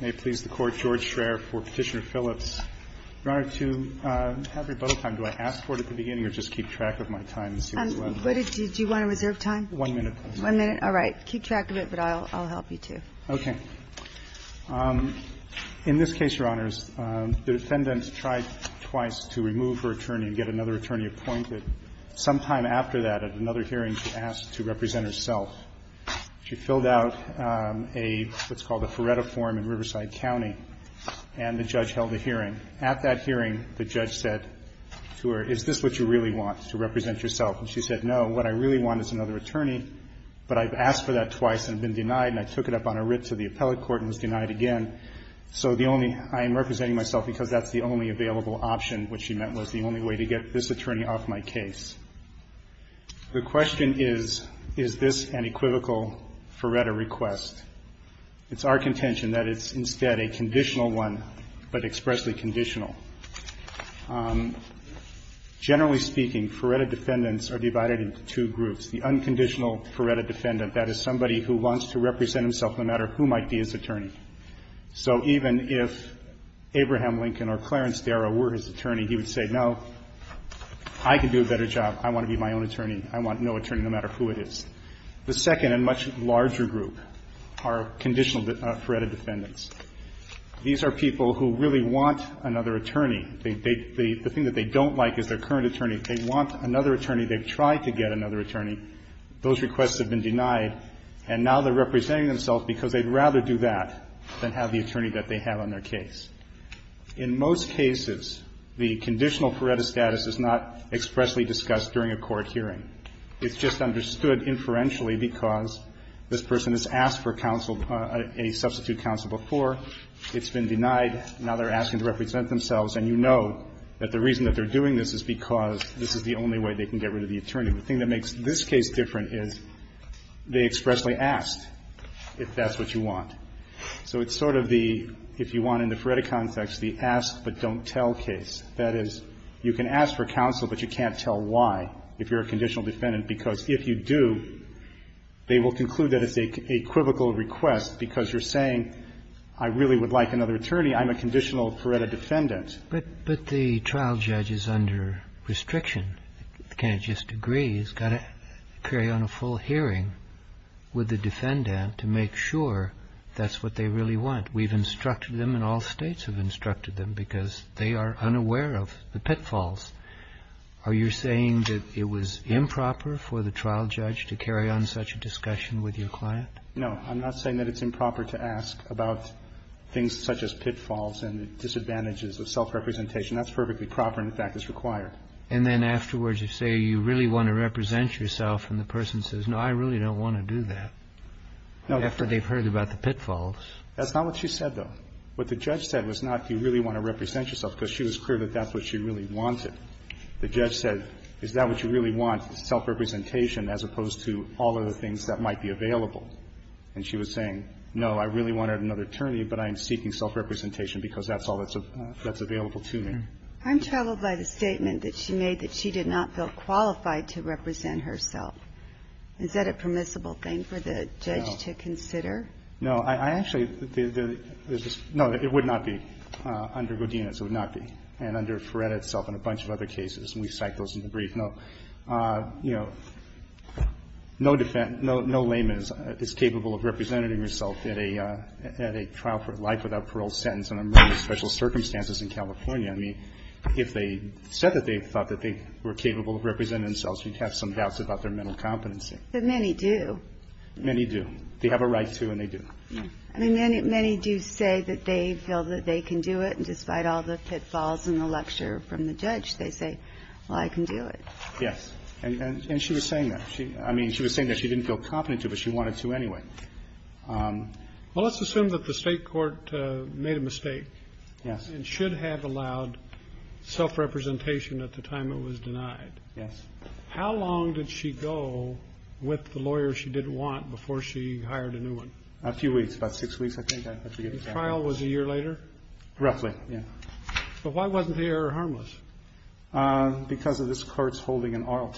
May it please the Court, George Schreyer for Petitioner Phillips. Your Honor, to have rebuttal time, do I ask for it at the beginning or just keep track of my time? Do you want to reserve time? One minute, please. One minute, all right. Keep track of it, but I'll help you, too. Okay. In this case, Your Honors, the defendant tried twice to remove her attorney and get another attorney appointed. Sometime after that, at another hearing, she asked to represent herself. She filled out what's called a Feretta form in Riverside County, and the judge held a hearing. At that hearing, the judge said to her, is this what you really want, to represent yourself? And she said, no, what I really want is another attorney, but I've asked for that twice and been denied, and I took it up on a writ to the appellate court and was denied again. So I am representing myself because that's the only available option, which she meant was the only way to get this attorney off my case. The question is, is this an equivocal Feretta request? It's our contention that it's instead a conditional one, but expressly conditional. Generally speaking, Feretta defendants are divided into two groups. The unconditional Feretta defendant, that is somebody who wants to represent himself no matter who might be his attorney. So even if Abraham Lincoln or Clarence Darrow were his attorney, he would say, no, I can do a better job. I want to be my own attorney. I want no attorney, no matter who it is. The second and much larger group are conditional Feretta defendants. These are people who really want another attorney. The thing that they don't like is their current attorney. They want another attorney. They've tried to get another attorney. Those requests have been denied. And now they're representing themselves because they'd rather do that than have the attorney that they have on their case. In most cases, the conditional Feretta status is not expressly discussed during a court hearing. It's just understood inferentially because this person has asked for counsel, a substitute counsel before. It's been denied. Now they're asking to represent themselves. And you know that the reason that they're doing this is because this is the only way they can get rid of the attorney. The thing that makes this case different is they expressly asked if that's what you want. So it's sort of the, if you want in the Feretta context, the ask but don't tell case. That is, you can ask for counsel, but you can't tell why if you're a conditional defendant, because if you do, they will conclude that it's a equivocal request because you're saying I really would like another attorney. I'm a conditional Feretta defendant. But the trial judge is under restriction. Can't just agree. He's got to carry on a full hearing with the defendant to make sure that's what they really want. We've instructed them and all states have instructed them because they are unaware of the pitfalls. Are you saying that it was improper for the trial judge to carry on such a discussion with your client? No. I'm not saying that it's improper to ask about things such as pitfalls and disadvantages of self-representation. That's perfectly proper. In fact, it's required. And then afterwards you say you really want to represent yourself, and the person says, no, I really don't want to do that. No. After they've heard about the pitfalls. That's not what she said, though. What the judge said was not do you really want to represent yourself, because she was clear that that's what she really wanted. The judge said, is that what you really want, self-representation, as opposed to all of the things that might be available. And she was saying, no, I really wanted another attorney, but I'm seeking self-representation because that's all that's available to me. I'm troubled by the statement that she made that she did not feel qualified to represent herself. Is that a permissible thing for the judge to consider? No. I actually, no, it would not be under Godinez. It would not be. And under Ferretta itself and a bunch of other cases, and we cite those in the brief. No. You know, no defense, no layman is capable of representing herself at a trial for life without parole sentence under special circumstances in California. I mean, if they said that they thought that they were capable of representing themselves, you'd have some doubts about their mental competency. But many do. Many do. They have a right to, and they do. I mean, many do say that they feel that they can do it, and despite all the pitfalls in the lecture from the judge, they say, well, I can do it. Yes. And she was saying that. I mean, she was saying that she didn't feel competent to, but she wanted to anyway. Well, let's assume that the state court made a mistake and should have allowed self-representation at the time it was denied. Yes. How long did she go with the lawyer she didn't want before she hired a new one? A few weeks, about six weeks, I think. The trial was a year later? Roughly, yeah. But why wasn't the error harmless? Because of this Court's holding an ARLT,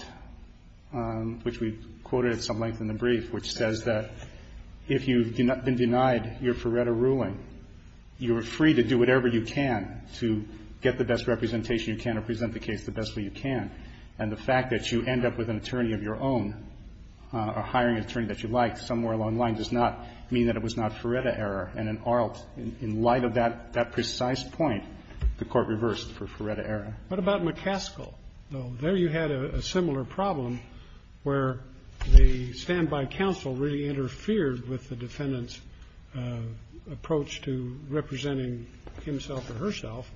which we quoted at some length in the brief, which says that if you've been denied your Ferretta ruling, you're free to do whatever you can to get the best representation you can or present the case the best way you can. And the fact that you end up with an attorney of your own or hiring an attorney that you like somewhere along the line does not mean that it was not Ferretta error. And in ARLT, in light of that precise point, the Court reversed for Ferretta error. What about McCaskill, though? There you had a similar problem where the standby counsel really interfered with the defendant's approach to representing himself or herself,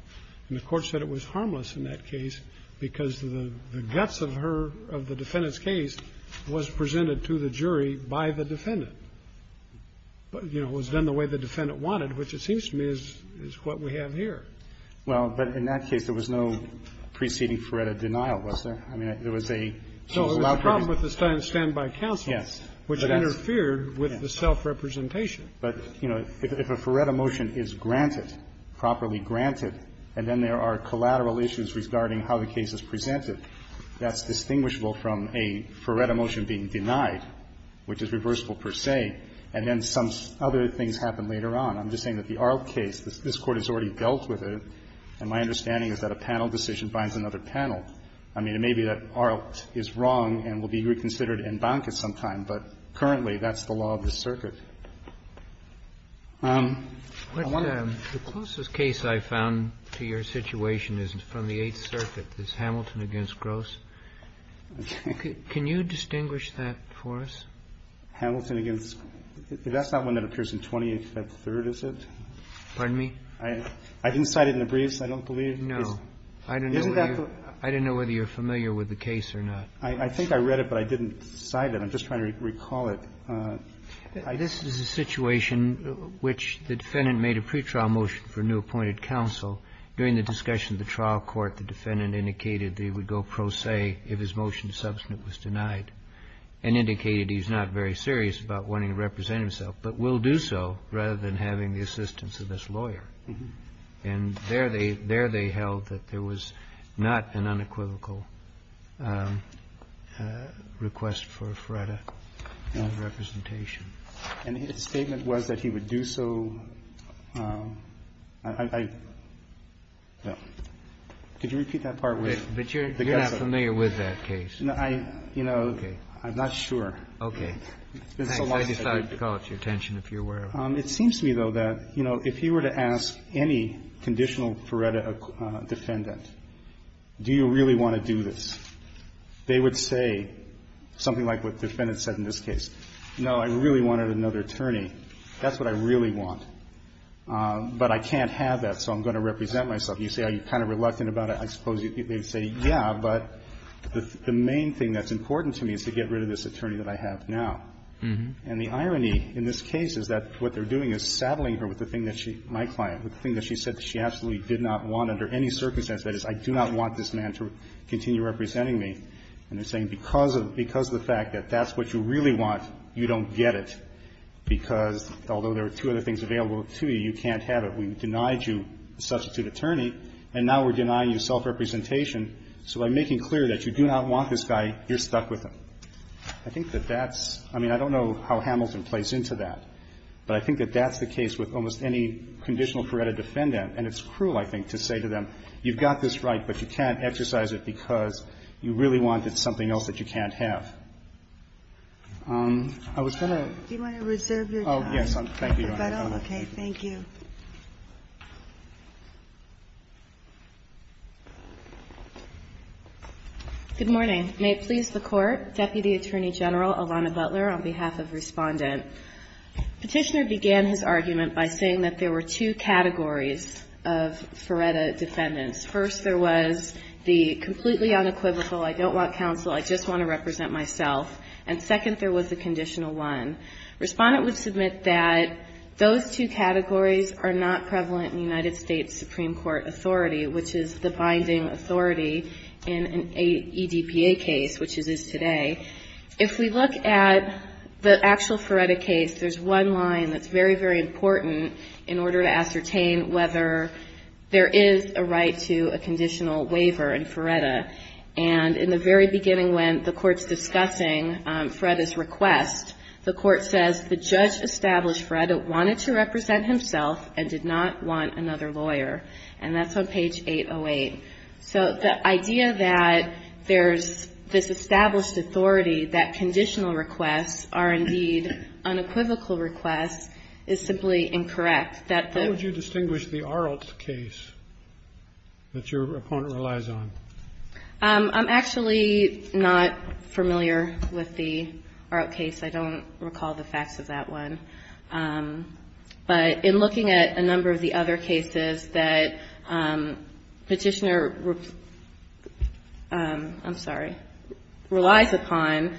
and the Court said it was harmless in that case because the guts of her, of the defendant's But, you know, it was done the way the defendant wanted, which it seems to me is what we have here. Well, but in that case, there was no preceding Ferretta denial, was there? I mean, there was a, she was allowed to be. So it was a problem with the standby counsel. Yes. But that's. Which interfered with the self-representation. But, you know, if a Ferretta motion is granted, properly granted, and then there are collateral issues regarding how the case is presented, that's distinguishable from a Ferretta motion being denied, which is reversible, per se, and then some other things happen later on. I'm just saying that the ARLT case, this Court has already dealt with it, and my understanding is that a panel decision binds another panel. I mean, it may be that ARLT is wrong and will be reconsidered in bonk at some time, but currently that's the law of the circuit. I want to. The closest case I found to your situation is from the Eighth Circuit. It's Hamilton v. Gross. Can you distinguish that for us? Hamilton v. Gross. That's not one that appears in 28th at third, is it? Pardon me? I didn't cite it in the briefs. I don't believe. No. Isn't that the? I don't know whether you're familiar with the case or not. I think I read it, but I didn't cite it. I'm just trying to recall it. This is a situation which the defendant made a pretrial motion for new appointed counsel. During the discussion at the trial court, the defendant indicated that he would go pro se if his motion to substitute was denied and indicated he's not very serious about wanting to represent himself, but will do so rather than having the assistance of this lawyer. And there they held that there was not an unequivocal request for a FREDA representation. And his statement was that he would do so. I don't know. Could you repeat that part? But you're not familiar with that case. No, I, you know, I'm not sure. Okay. I decided to call it to your attention, if you're aware of it. It seems to me, though, that, you know, if you were to ask any conditional FREDA defendant, do you really want to do this, they would say something like what the defendant said in this case. No, I really wanted another attorney. That's what I really want. But I can't have that, so I'm going to represent myself. You say, are you kind of reluctant about it? I suppose you'd say, yeah, but the main thing that's important to me is to get rid of this attorney that I have now. And the irony in this case is that what they're doing is saddling her with the thing that she, my client, with the thing that she said that she absolutely did not want under any circumstance, that is, I do not want this man to continue representing me. And they're saying because of the fact that that's what you really want, you don't get it, because although there are two other things available to you, you can't have it. We've denied you a substitute attorney, and now we're denying you self-representation. So by making clear that you do not want this guy, you're stuck with him. I think that that's – I mean, I don't know how Hamilton plays into that, but I think that that's the case with almost any conditional FREDA defendant. And it's cruel, I think, to say to them, you've got this right, but you can't exercise it because you really want something else that you can't have. I was going to – Do you want to reserve your time? Oh, yes. Thank you, Your Honor. Okay. Thank you. Good morning. May it please the Court. Deputy Attorney General Alana Butler on behalf of Respondent. Petitioner began his argument by saying that there were two categories of FREDA defendants. First, there was the completely unequivocal, I don't want counsel, I just want to represent myself. And second, there was the conditional one. Respondent would submit that those two categories are not prevalent in United States Supreme Court authority, which is the binding authority in an EDPA case, which it is today. If we look at the actual FREDA case, there's one line that's very, very important in order to ascertain whether there is a right to a conditional waiver in FREDA. And in the very beginning when the Court's discussing FREDA's request, the Court says the judge established FREDA wanted to represent himself and did not want another lawyer. And that's on page 808. So the idea that there's this established authority that conditional requests are indeed unequivocal requests is simply incorrect. Roberts, Jr. How would you distinguish the Arlt case that your opponent relies on? Butler I'm actually not familiar with the Arlt case. I don't recall the facts of that one. But in looking at a number of the other cases that Petitioner, I'm sorry, relies upon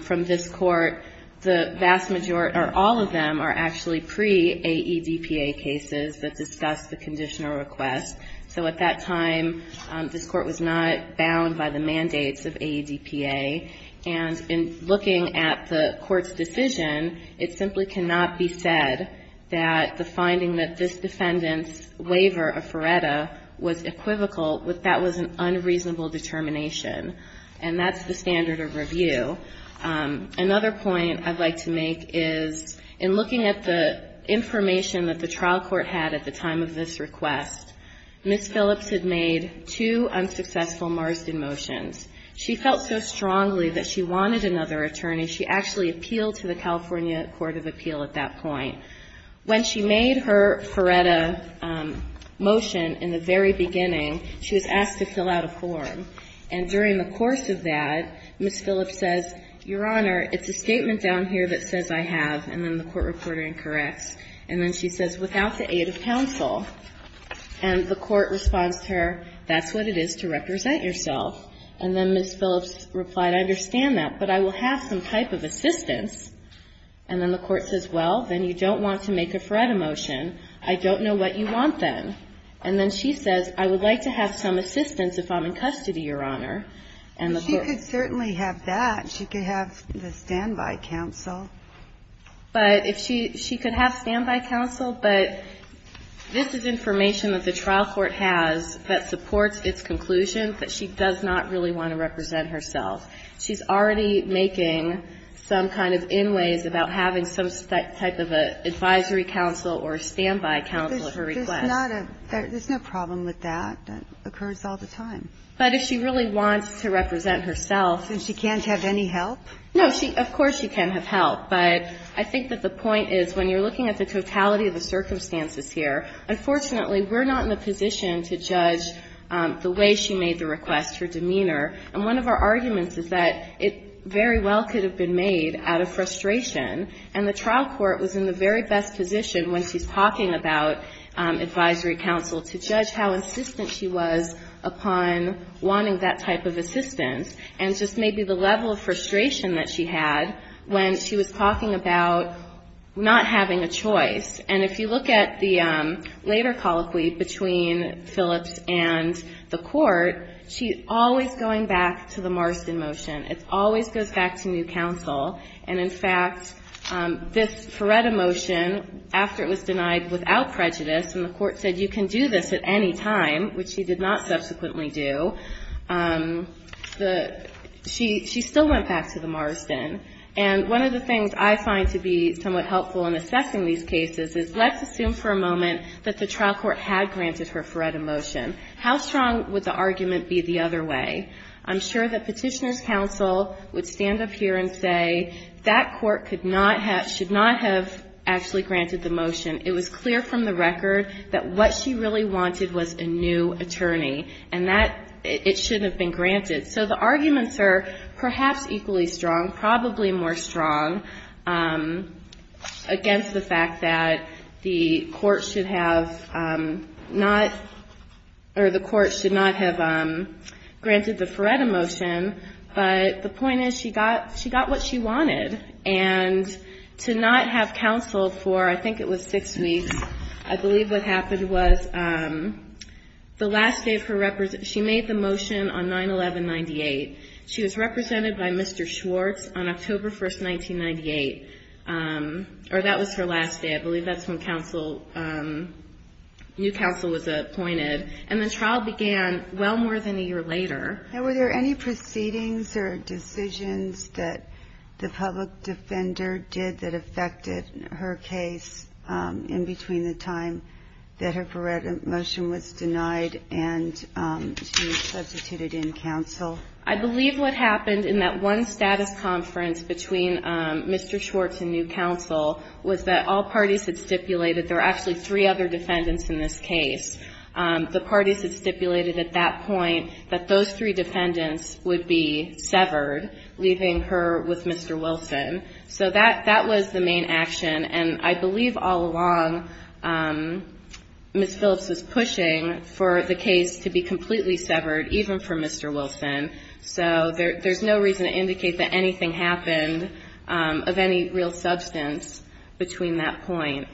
from this Court, the vast majority or all of them are actually pre-AEDPA cases that discuss the conditional request. So at that time, this Court was not bound by the mandates of AEDPA. And in looking at the Court's decision, it simply cannot be said that the finding that this defendant's waiver of FREDA was equivocal, that that was an unreasonable determination. And that's the standard of review. Another point I'd like to make is, in looking at the information that the trial court had at the time of this request, Ms. Phillips had made two unsuccessful Marsden motions. She felt so strongly that she wanted another attorney. She actually appealed to the California Court of Appeal at that point. When she made her FREDA motion in the very beginning, she was asked to fill out a form. And during the course of that, Ms. Phillips says, Your Honor, it's a statement down here that says I have, and then the court reporter incorrects. And then she says, without the aid of counsel. And the court responds to her, that's what it is to represent yourself. And then Ms. Phillips replied, I understand that, but I will have some type of assistance. And then the court says, well, then you don't want to make a FREDA motion. I don't know what you want then. And then she says, I would like to have some assistance if I'm in custody, Your Honor. And the court responds. Ginsburg-Miller She could certainly have that. She could have the standby counsel. But if she could have standby counsel, but this is information that the trial court has that supports its conclusion that she does not really want to represent herself. She's already making some kind of in ways about having some type of an advisory counsel or standby counsel at her request. There's no problem with that. That occurs all the time. But if she really wants to represent herself. And she can't have any help? No. Of course she can have help. But I think that the point is, when you're looking at the totality of the circumstances here, unfortunately, we're not in a position to judge the way she made the request, her demeanor. And one of our arguments is that it very well could have been made out of frustration, and the trial court was in the very best position when she's talking about advisory counsel to judge how insistent she was upon wanting that type of assistance. And just maybe the level of frustration that she had when she was talking about not having a choice. And if you look at the later colloquy between Phillips and the Court, she's always going back to the Marston motion. It always goes back to new counsel. And, in fact, this Feretta motion, after it was denied without prejudice and the court said, you can do this at any time, which she did not subsequently do, she still went back to the Marston. And one of the things I find to be somewhat helpful in assessing these cases is let's assume for a moment that the trial court had granted her Feretta motion. How strong would the argument be the other way? I'm sure that Petitioner's counsel would stand up here and say, that court should not have actually granted the motion. It was clear from the record that what she really wanted was a new attorney and that it shouldn't have been granted. So the arguments are perhaps equally strong, probably more strong, against the fact that the court should have not or the court should not have granted the Feretta motion. But the point is she got what she wanted. And to not have counsel for, I think it was six weeks, I believe what happened was the last day of her, she made the motion on 9-11-98. She was represented by Mr. Schwartz on October 1st, 1998. Or that was her last day. I believe that's when counsel, new counsel was appointed. And the trial began well more than a year later. Now, were there any proceedings or decisions that the public defender did that affected her case in between the time that her Feretta motion was denied and she substituted in counsel? I believe what happened in that one status conference between Mr. Schwartz and new counsel was that all parties had stipulated there were actually three other defendants in this case. The parties had stipulated at that point that those three defendants would be severed, leaving her with Mr. Wilson. So that was the main action. And I believe all along Ms. Phillips was pushing for the case to be completely severed, even for Mr. Wilson. So there's no reason to indicate that anything happened of any real substance between that point.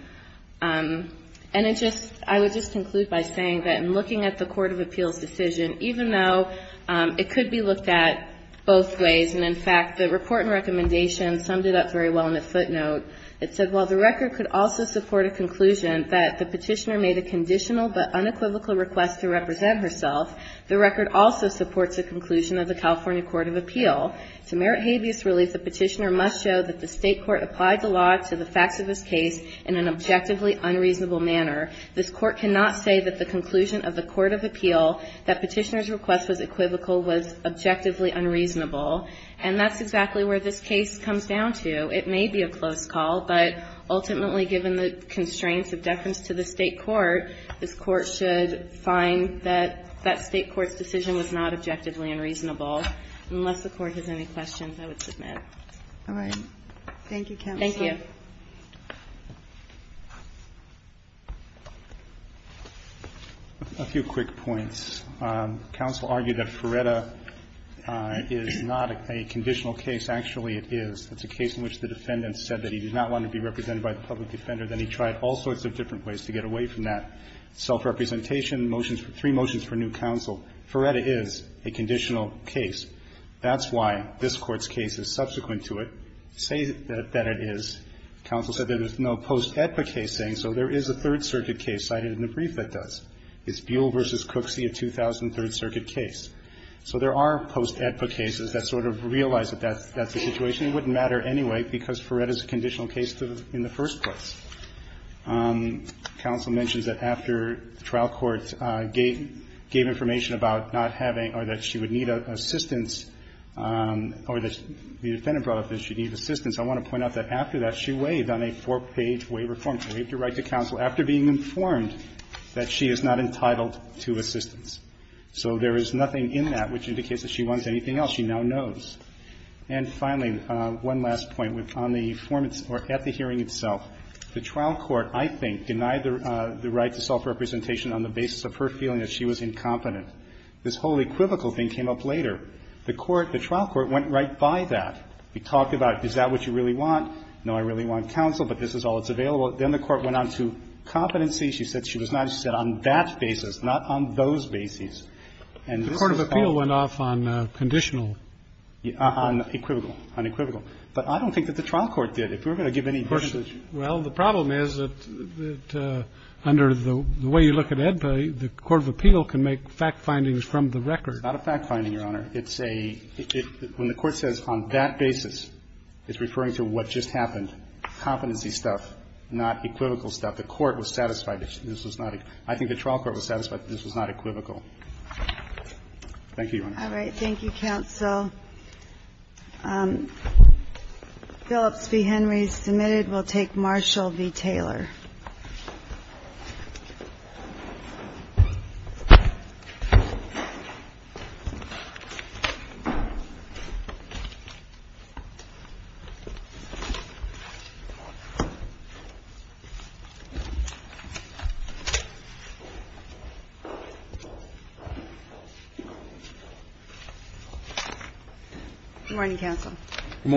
And I would just conclude by saying that in looking at the Court of Appeals decision, even though it could be looked at both ways, and in fact, the report and recommendation summed it up very well in a footnote. It said, while the record could also support a conclusion that the petitioner made a conditional but unequivocal request to represent herself, the record also supports a conclusion of the California Court of Appeal. To merit habeas relief, the petitioner must show that the state court applied the law to the facts of this case in an objectively unreasonable manner. This court cannot say that the conclusion of the Court of Appeal that petitioner's request was equivocal was objectively unreasonable. And that's exactly where this case comes down to. It may be a close call, but ultimately, given the constraints of deference to the state court, this court should find that that state court's decision was not objectively unreasonable, unless the court has any questions I would submit. All right. Thank you, counsel. Thank you. A few quick points. Counsel argued that Feretta is not a conditional case. Actually, it is. It's a case in which the defendant said that he did not want to be represented by the public defender. Then he tried all sorts of different ways to get away from that. Self-representation, motions for three motions for new counsel. Feretta is a conditional case. That's why this court's case is subsequent to it. Say that it is. Counsel said that there's no post-EDPA case saying so. There is a Third Circuit case cited in the brief that does. It's Buell v. Cooksey, a 2000 Third Circuit case. So there are post-EDPA cases that sort of realize that that's the situation. It wouldn't matter anyway, because Feretta is a conditional case in the first place. Counsel mentions that after the trial court gave information about not having or that she would need assistance or that the defendant brought up that she needed assistance, I want to point out that after that, she waived on a four-page waiver form. She waived her right to counsel after being informed that she is not entitled to assistance. So there is nothing in that which indicates that she wants anything else. She now knows. And finally, one last point. On the form or at the hearing itself, the trial court, I think, denied the right to self-representation on the basis of her feeling that she was incompetent. This whole equivocal thing came up later. The court, the trial court, went right by that. It talked about, is that what you really want? No, I really want counsel, but this is all that's available. Then the court went on to competency. She said she was not, she said, on that basis, not on those basis. And this was all of it. The court of appeal went off on conditional. On equivocal, on equivocal. But I don't think that the trial court did. If you were going to give any versus. Well, the problem is that under the way you look at EDPA, the court of appeal can make fact findings from the record. Not a fact finding, Your Honor. It's a, when the court says on that basis, it's referring to what just happened. Competency stuff, not equivocal stuff. The court was satisfied that this was not, I think the trial court was satisfied that this was not equivocal. Thank you, Your Honor. All right. Thank you, counsel. Phillips v. Henry is submitted. We'll take Marshall v. Taylor. We'll take Marshall v. Taylor. Good morning, counsel.